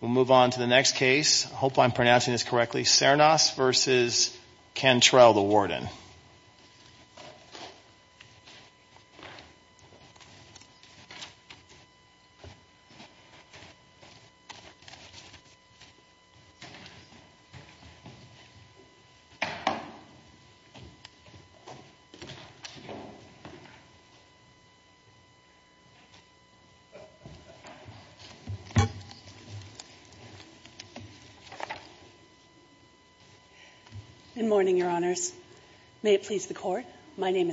We'll move on to the next case. I hope I'm pronouncing this correctly. Sernas v. Cantrell, the warden.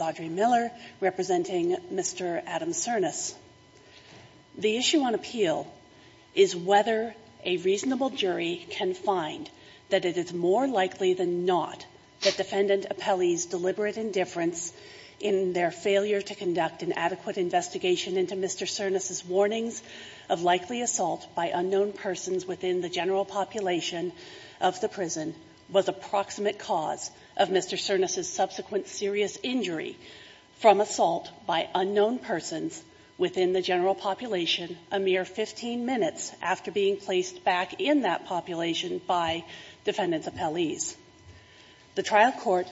Audre Miller, representing Mr. Adam Sernas, the issue on appeal is whether a reasonable jury can find that it is more likely than not that defendant appellees deliberate indifference in their failure to conduct an adequate investigation into Mr. Sernas' warnings of likely assault by undue force. The trial court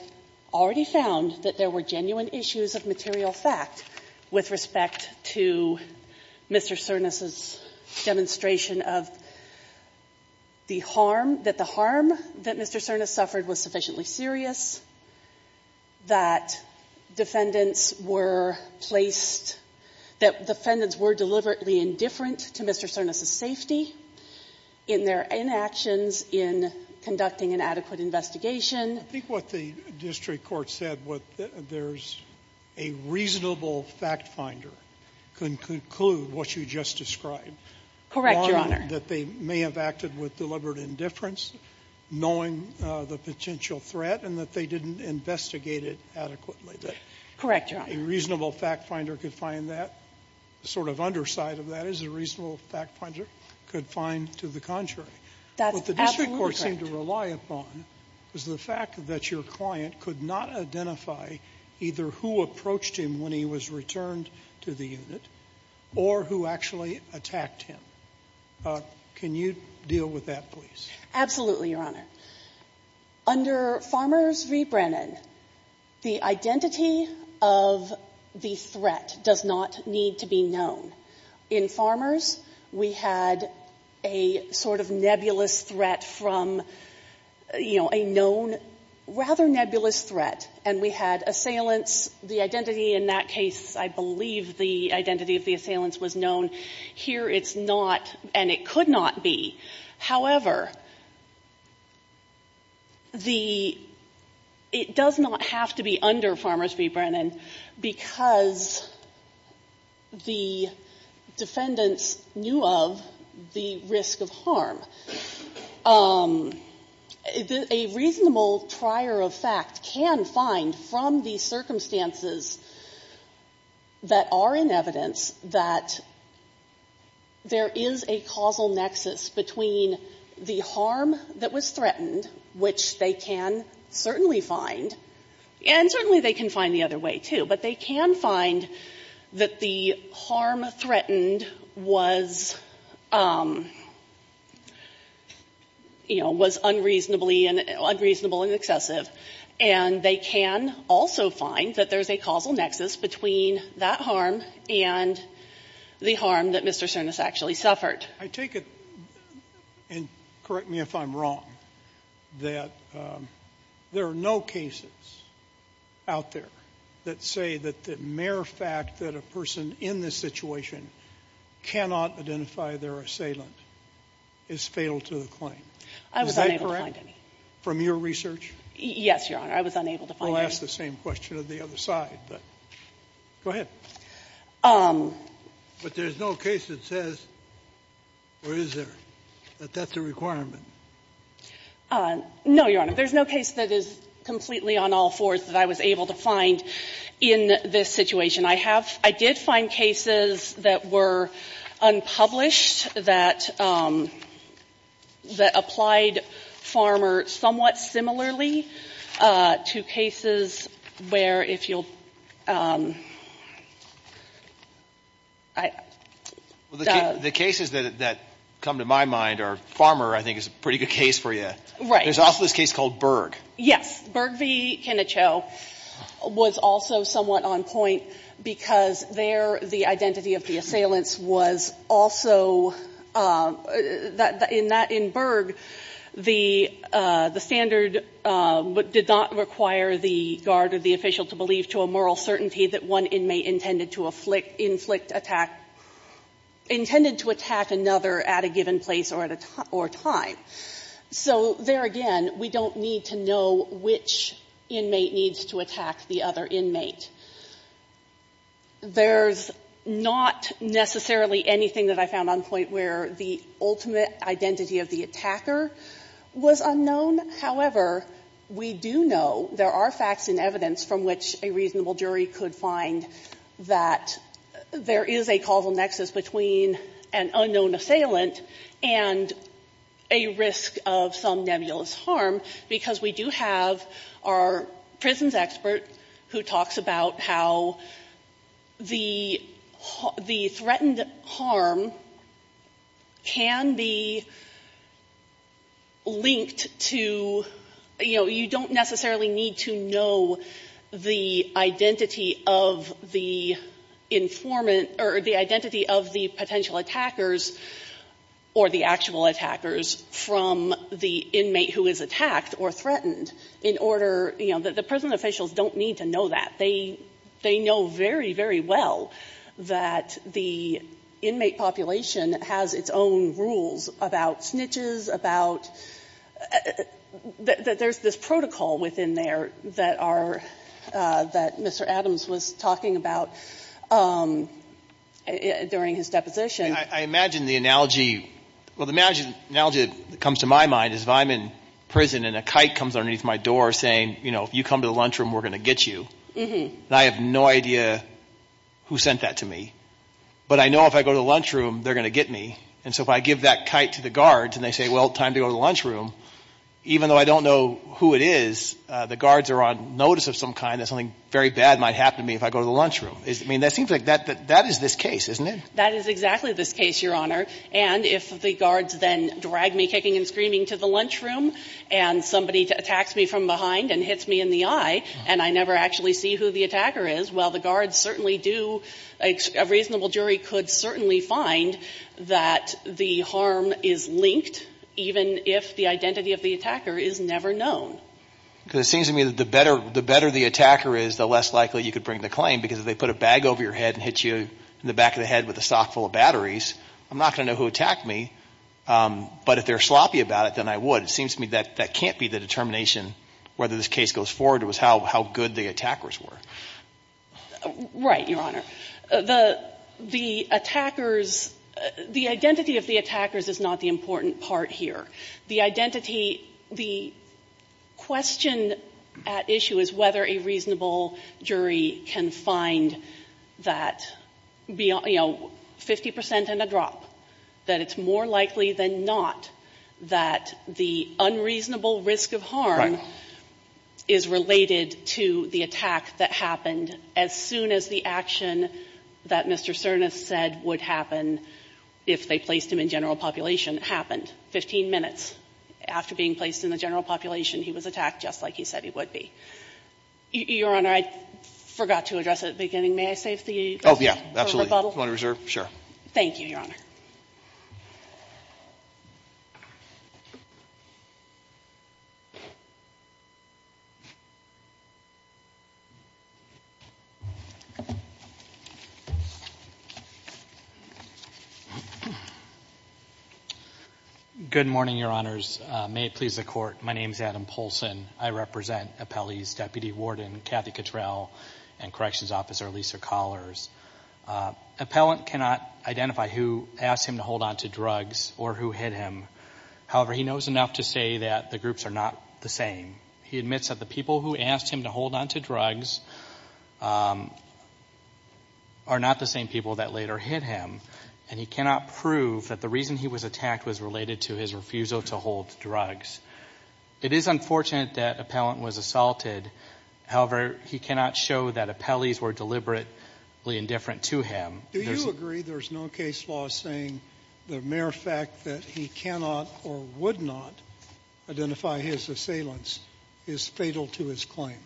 already found that there were genuine issues of material fact with respect to Mr. Sernas' demonstration of the fact that assault by unknown persons within the case of the harm, that the harm that Mr. Sernas suffered was sufficiently serious, that defendants were placed, that defendants were deliberately indifferent to Mr. Sernas' safety in their inactions in conducting an adequate investigation. Sotomayor I think what the district court said, there's a reasonable fact finder could conclude what you just described, that they may have acted with deliberate indifference, knowing the potential threat, and that they didn't investigate it adequately, that a reasonable fact finder could find that. The sort of underside of that is a reasonable fact finder could find to the contrary. What the district court seemed to rely upon was the fact that your client could not identify either who approached him when he was returned to the unit or who actually attacked him. Can you deal with that, please? Absolutely, Your Honor. Under Farmers v. Brennan, the identity of the threat does not need to be known. In Farmers, we had a sort of nebulous threat from, you know, a known rather nebulous threat, and we had assailants. The identity in that case, I believe the identity of the assailants was known. Here it's not, and it could not be. However, the — it does not have to be under Farmers v. Brennan because the defendants knew of the risk of harm. A reasonable trier of fact can find from the circumstances that are in evidence that there is a causal nexus between the harm that was threatened, which they can certainly find, and certainly they can find the other way, too. But they can find that the harm threatened was, you know, was unreasonably — unreasonable and excessive. And they can also find that there's a causal nexus between that harm and the harm that Mr. Cernas actually suffered. I take it, and correct me if I'm wrong, that there are no cases out there that say that the mere fact that a person in this situation cannot identify their assailant is fatal to the claim. Is that correct? I was unable to find any. From your research? Yes, Your Honor. I was unable to find any. Well, ask the same question of the other side, but — go ahead. But there's no case that says, or is there, that that's a requirement? No, Your Honor. There's no case that is completely on all fours that I was able to find in this situation. I have — I did find cases that were unpublished that applied Farmer somewhat to cases where, if you'll — The cases that come to my mind are Farmer, I think, is a pretty good case for you. Right. There's also this case called Berg. Yes. Berg v. Kennecho was also somewhat on point because there the identity of the assailant was also — in Berg, the standard did not require the guard or the official to believe to a moral certainty that one inmate intended to inflict attack — intended to attack another at a given place or time. So, there again, we don't need to know which inmate needs to attack the other inmate. There's not necessarily anything that I found on point where the ultimate identity of the attacker was unknown. However, we do know there are facts and evidence from which a reasonable jury could find that there is a causal nexus between an unknown assailant and a risk of some kind. And so, I think it's important to think about how the threatened harm can be linked to — you know, you don't necessarily need to know the identity of the informant or the identity of the potential attackers or the actual attackers from the inmate who is attacked or threatened in order — you know, the prison officials don't need to know that. They know very, very well that the inmate population has its own rules about snitches, about — there's this protocol within there that our — that Mr. Adams was talking about during his deposition. I imagine the analogy — well, the analogy that comes to my mind is if I'm in prison and a kite comes underneath my door saying, you know, if you come to the lunchroom, we're going to get you. And I have no idea who sent that to me. But I know if I go to the lunchroom, they're going to get me. And so, if I give that kite to the guards and they say, well, time to go to the lunchroom, even though I don't know who it is, the guards are on notice of some kind that something very bad might happen to me if I go to the lunchroom. I mean, that seems like — that is this case, isn't it? That is exactly this case, Your Honor. And if the guards then drag me kicking and screaming to the lunchroom and somebody attacks me from behind and hits me in the eye and I never actually see who the attacker is, well, the guards certainly do — a reasonable jury could certainly find that the harm is linked even if the identity of the attacker is never known. Because it seems to me that the better the attacker is, the less likely you could bring the claim because if they put a bag over your head and hit you in the back of the head with a sock full of batteries, I'm not going to know who attacked me. But if they're sloppy about it, then I would. It seems to me that that can't be the determination whether this case goes forward or how good the attackers were. Right, Your Honor. The attackers — the identity of the attackers is not the important part here. The identity — the question at issue is whether a reasonable jury can find that, you that it's more likely than not that the unreasonable risk of harm is related to the attack that happened as soon as the action that Mr. Cernas said would happen if they placed him in general population happened. Fifteen minutes after being placed in the general population, he was attacked just like he said he would be. Your Honor, I forgot to address at the beginning. May I save the — Oh, yeah. Absolutely. Do you want to reserve? Thank you, Your Honor. Good morning, Your Honors. May it please the Court, my name is Adam Poulsen. I represent appellees Deputy Warden Kathy Cottrell and Corrections Officer Lisa Collars. Appellant cannot identify who asked him to hold on to drugs or who hit him. However, he knows enough to say that the groups are not the same. He admits that the people who asked him to hold on to drugs are not the same people that later hit him, and he cannot prove that the reason he was attacked was related to his refusal to hold drugs. It is unfortunate that appellant was assaulted. However, he cannot show that appellees were deliberately indifferent to him. Do you agree there's no case law saying the mere fact that he cannot or would not identify his assailants is fatal to his claim?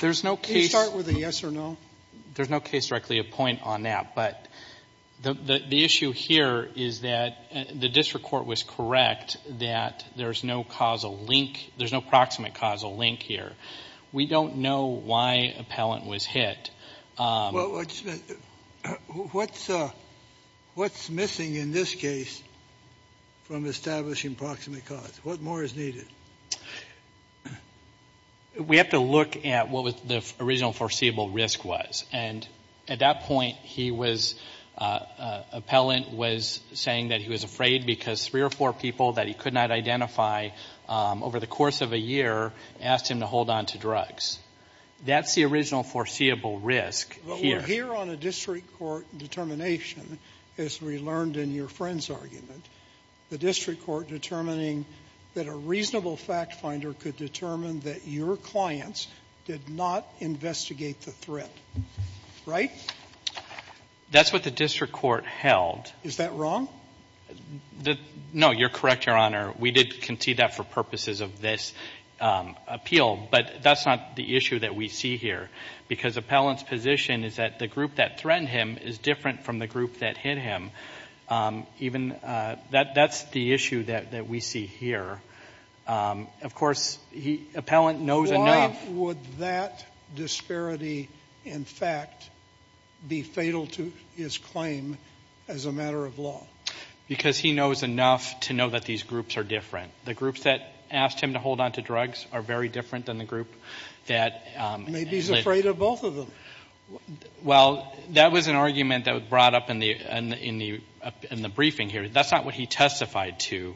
There's no case — Can you start with a yes or no? There's no case directly a point on that, but the issue here is that the district court was correct that there's no causal link. There's no proximate causal link here. We don't know why appellant was hit. What's missing in this case from establishing proximate cause? What more is needed? We have to look at what the original foreseeable risk was. And at that point, he was — appellant was saying that he was afraid because three or four people that he could not identify over the course of a year asked him to hold on to drugs. That's the original foreseeable risk here. But we're here on a district court determination, as we learned in your friend's argument, the district court determining that a reasonable fact finder could determine that your right? That's what the district court held. Is that wrong? No. You're correct, Your Honor. We did concede that for purposes of this appeal. But that's not the issue that we see here, because appellant's position is that the group that threatened him is different from the group that hit him. Even — that's the issue that we see here. Of course, he — appellant knows — Why would that disparity, in fact, be fatal to his claim as a matter of law? Because he knows enough to know that these groups are different. The groups that asked him to hold on to drugs are very different than the group that — Maybe he's afraid of both of them. Well, that was an argument that was brought up in the briefing here. That's not what he testified to.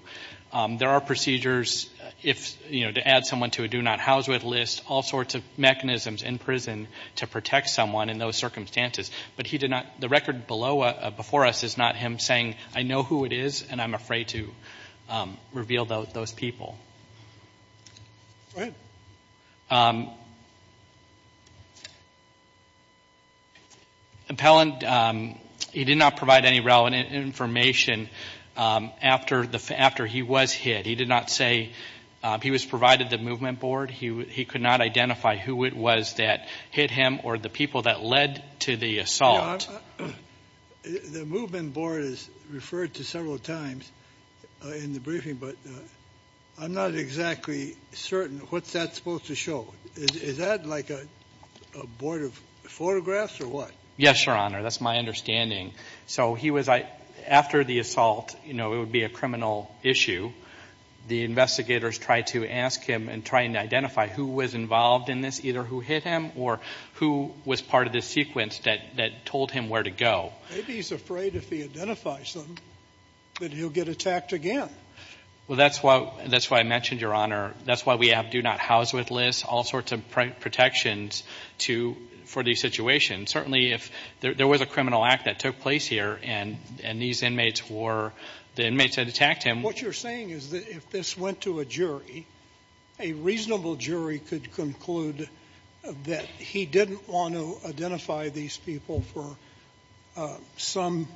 There are procedures if — you know, to add someone to a do-not-house-with list, all sorts of mechanisms in prison to protect someone in those circumstances. But he did not — the record below — before us is not him saying, I know who it is, and I'm afraid to reveal those people. Go ahead. Appellant — he did not provide any relevant information after he was hit. He did not say he was provided the movement board. He could not identify who it was that hit him or the people that led to the assault. The movement board is referred to several times in the briefing, but I'm not exactly certain what that's supposed to show. Is that like a board of photographs or what? Yes, Your Honor. That's my understanding. So he was — after the assault, you know, it would be a criminal issue. The investigators tried to ask him and try and identify who was involved in this, either who hit him or who was part of the sequence that told him where to go. Maybe he's afraid if he identifies them that he'll get attacked again. Well, that's why I mentioned, Your Honor, that's why we have do-not-house-with lists, all sorts of protections for these situations. Certainly, if there was a criminal act that took place here and these inmates were the inmates that attacked him — What you're saying is that if this went to a jury, a reasonable jury could conclude that he didn't want to identify these people for some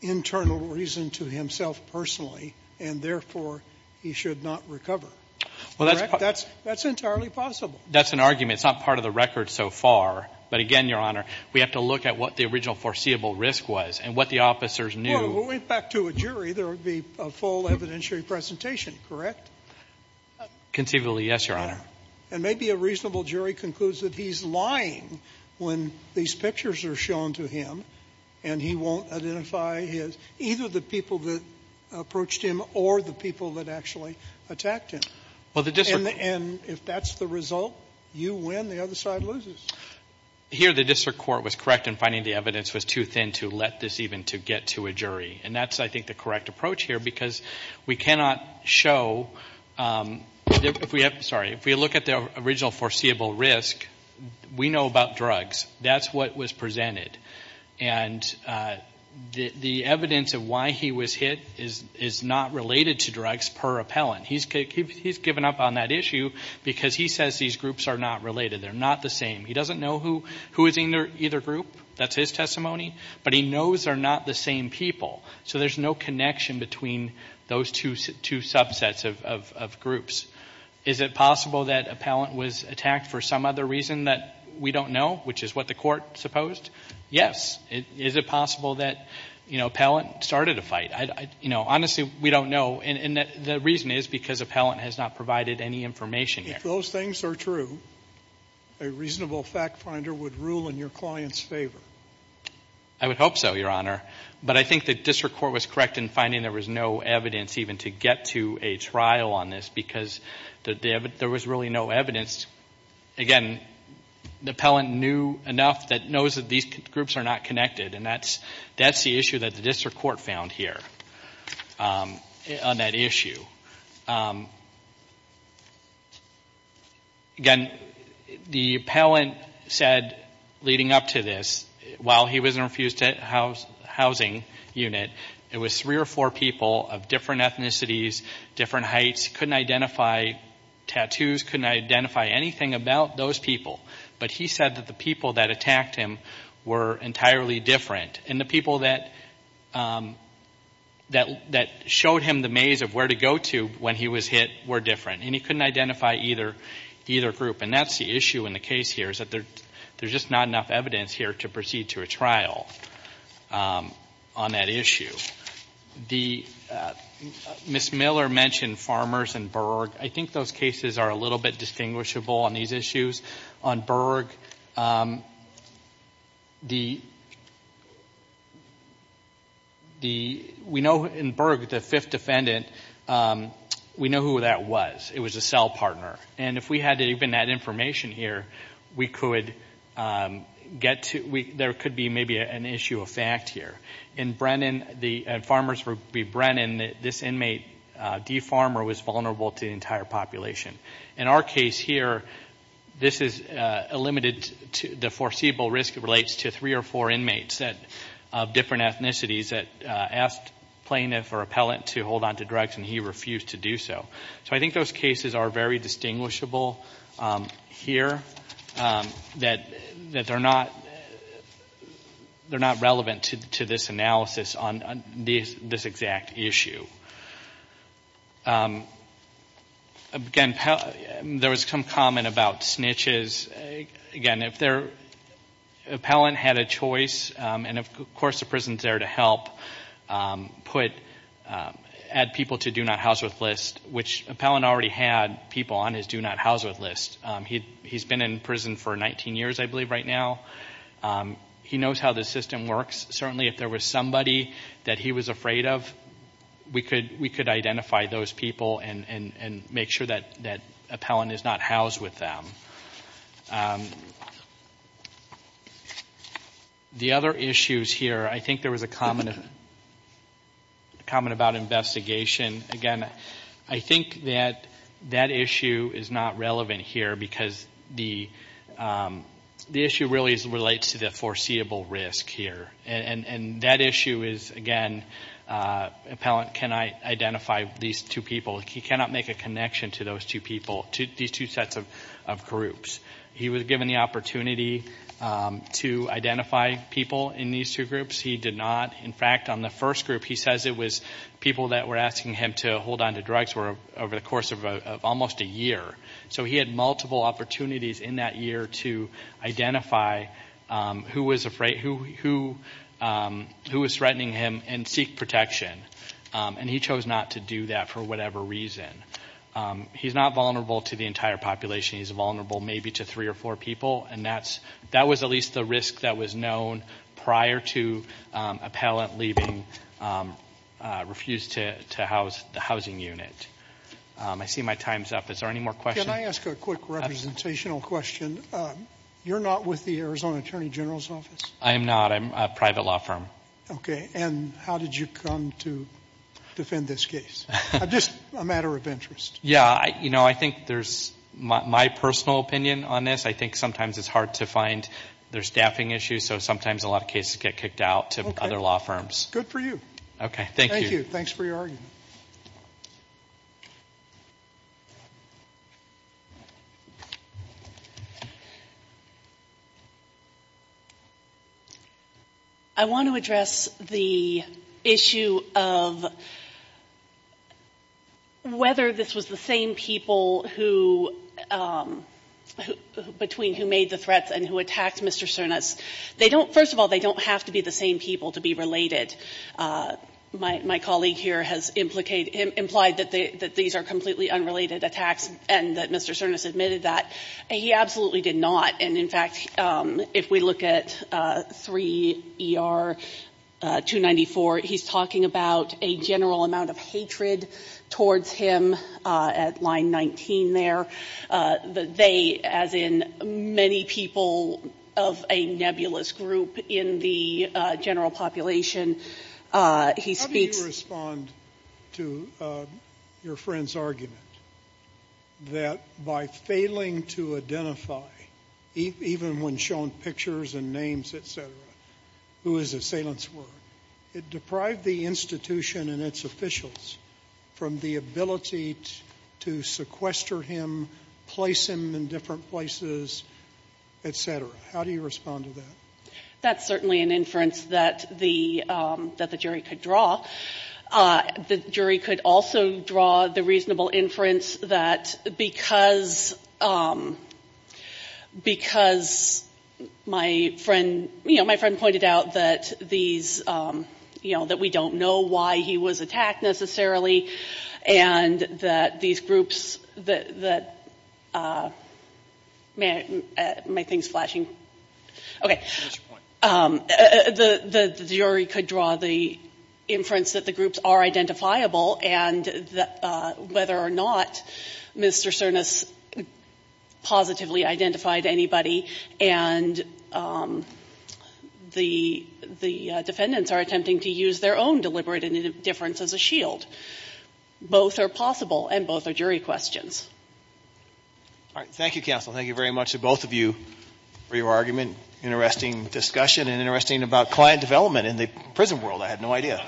internal reason to himself personally, and therefore he should not recover. That's entirely possible. That's an argument. It's not part of the record so far. But again, Your Honor, we have to look at what the original foreseeable risk was and what the officers knew. Well, if it went back to a jury, there would be a full evidentiary presentation, correct? Conceivably, yes, Your Honor. And maybe a reasonable jury concludes that he's lying when these pictures are shown to him and he won't identify either the people that approached him or the people that actually attacked him. And if that's the result, you win, the other side loses. Here the district court was correct in finding the evidence was too thin to let this even get to a jury. And that's, I think, the correct approach here because we cannot show — If we look at the original foreseeable risk, we know about drugs. That's what was presented. And the evidence of why he was hit is not related to drugs per appellant. He's given up on that issue because he says these groups are not related. They're not the same. He doesn't know who is in either group. That's his testimony. But he knows they're not the same people. So there's no connection between those two subsets of groups. Is it possible that appellant was attacked for some other reason that we don't know, which is what the court supposed? Yes. Is it possible that, you know, appellant started a fight? You know, honestly, we don't know. And the reason is because appellant has not provided any information here. If those things are true, a reasonable fact finder would rule in your client's favor. I would hope so, Your Honor. But I think the district court was correct in finding there was no evidence even to get to a trial on this because there was really no evidence. Again, the appellant knew enough that knows that these groups are not connected, and that's the issue that the district court found here on that issue. Again, the appellant said leading up to this, while he was in the Refused Housing Unit, it was three or four people of different ethnicities, different heights, couldn't identify tattoos, couldn't identify anything about those people. But he said that the people that attacked him were entirely different. And the people that showed him the maze of where to go to when he was hit were different. And he couldn't identify either group. And that's the issue in the case here is that there's just not enough evidence here to proceed to a trial on that issue. Ms. Miller mentioned Farmers and Berg. I think those cases are a little bit distinguishable on these issues. On Berg, we know in Berg the fifth defendant, we know who that was. It was a cell partner. And if we had even that information here, there could be maybe an issue of fact here. In Brennan, the Farmers v. Brennan, this inmate, D Farmer, was vulnerable to the entire population. In our case here, the foreseeable risk relates to three or four inmates of different ethnicities that asked plaintiff or appellant to hold on to drugs, and he refused to do so. So I think those cases are very distinguishable here, that they're not relevant to this analysis on this exact issue. Again, there was some comment about snitches. Again, if their appellant had a choice, and of course the prison's there to help, add people to Do Not House With list, which appellant already had people on his Do Not House With list. He's been in prison for 19 years, I believe, right now. He knows how the system works. Certainly if there was somebody that he was afraid of, we could identify those people and make sure that appellant is not housed with them. The other issues here, I think there was a comment about investigation. Again, I think that that issue is not relevant here because the issue really relates to the foreseeable risk here. And that issue is, again, appellant cannot identify these two people. He cannot make a connection to those two people, these two sets of groups. He was given the opportunity to identify people in these two groups. He did not. In fact, on the first group, he says it was people that were asking him to hold onto drugs over the course of almost a year. So he had multiple opportunities in that year to identify who was threatening him and seek protection. And he chose not to do that for whatever reason. He's not vulnerable to the entire population. He's vulnerable maybe to three or four people. And that was at least the risk that was known prior to appellant leaving, refused to house the housing unit. I see my time's up. Is there any more questions? Can I ask a quick representational question? You're not with the Arizona Attorney General's Office? I am not. I'm a private law firm. Okay. And how did you come to defend this case? Just a matter of interest. Yeah. You know, I think there's my personal opinion on this. I think sometimes it's hard to find their staffing issues, so sometimes a lot of cases get kicked out to other law firms. Good for you. Okay. Thank you. Thank you. Thanks for your argument. I want to address the issue of whether this was the same people who, between who made the threats and who attacked Mr. Cernas. They don't, first of all, they don't have to be the same people to be related. My colleague here has implied that these are completely unrelated attacks and that Mr. Cernas admitted that. He absolutely did not. And, in fact, if we look at 3 ER 294, he's talking about a general amount of hatred towards him at line 19 there. They, as in many people of a nebulous group in the general population, he speaks to his friends' argument that by failing to identify, even when shown pictures and names, et cetera, who his assailants were, it deprived the institution and its officials from the ability to sequester him, place him in different places, et cetera. How do you respond to that? That's certainly an inference that the jury could draw. The jury could also draw the reasonable inference that because my friend, you know, my friend pointed out that these, you know, that we don't know why he was attacked necessarily and that these groups that, my thing's flashing. The jury could draw the inference that the groups are identifiable and whether or not Mr. Cernas positively identified anybody and the defendants are attempting to use their own deliberate indifference as a shield. Both are possible and both are jury questions. All right. Thank you, counsel. Thank you very much to both of you for your argument. Interesting discussion and interesting about client development in the prison world. I had no idea.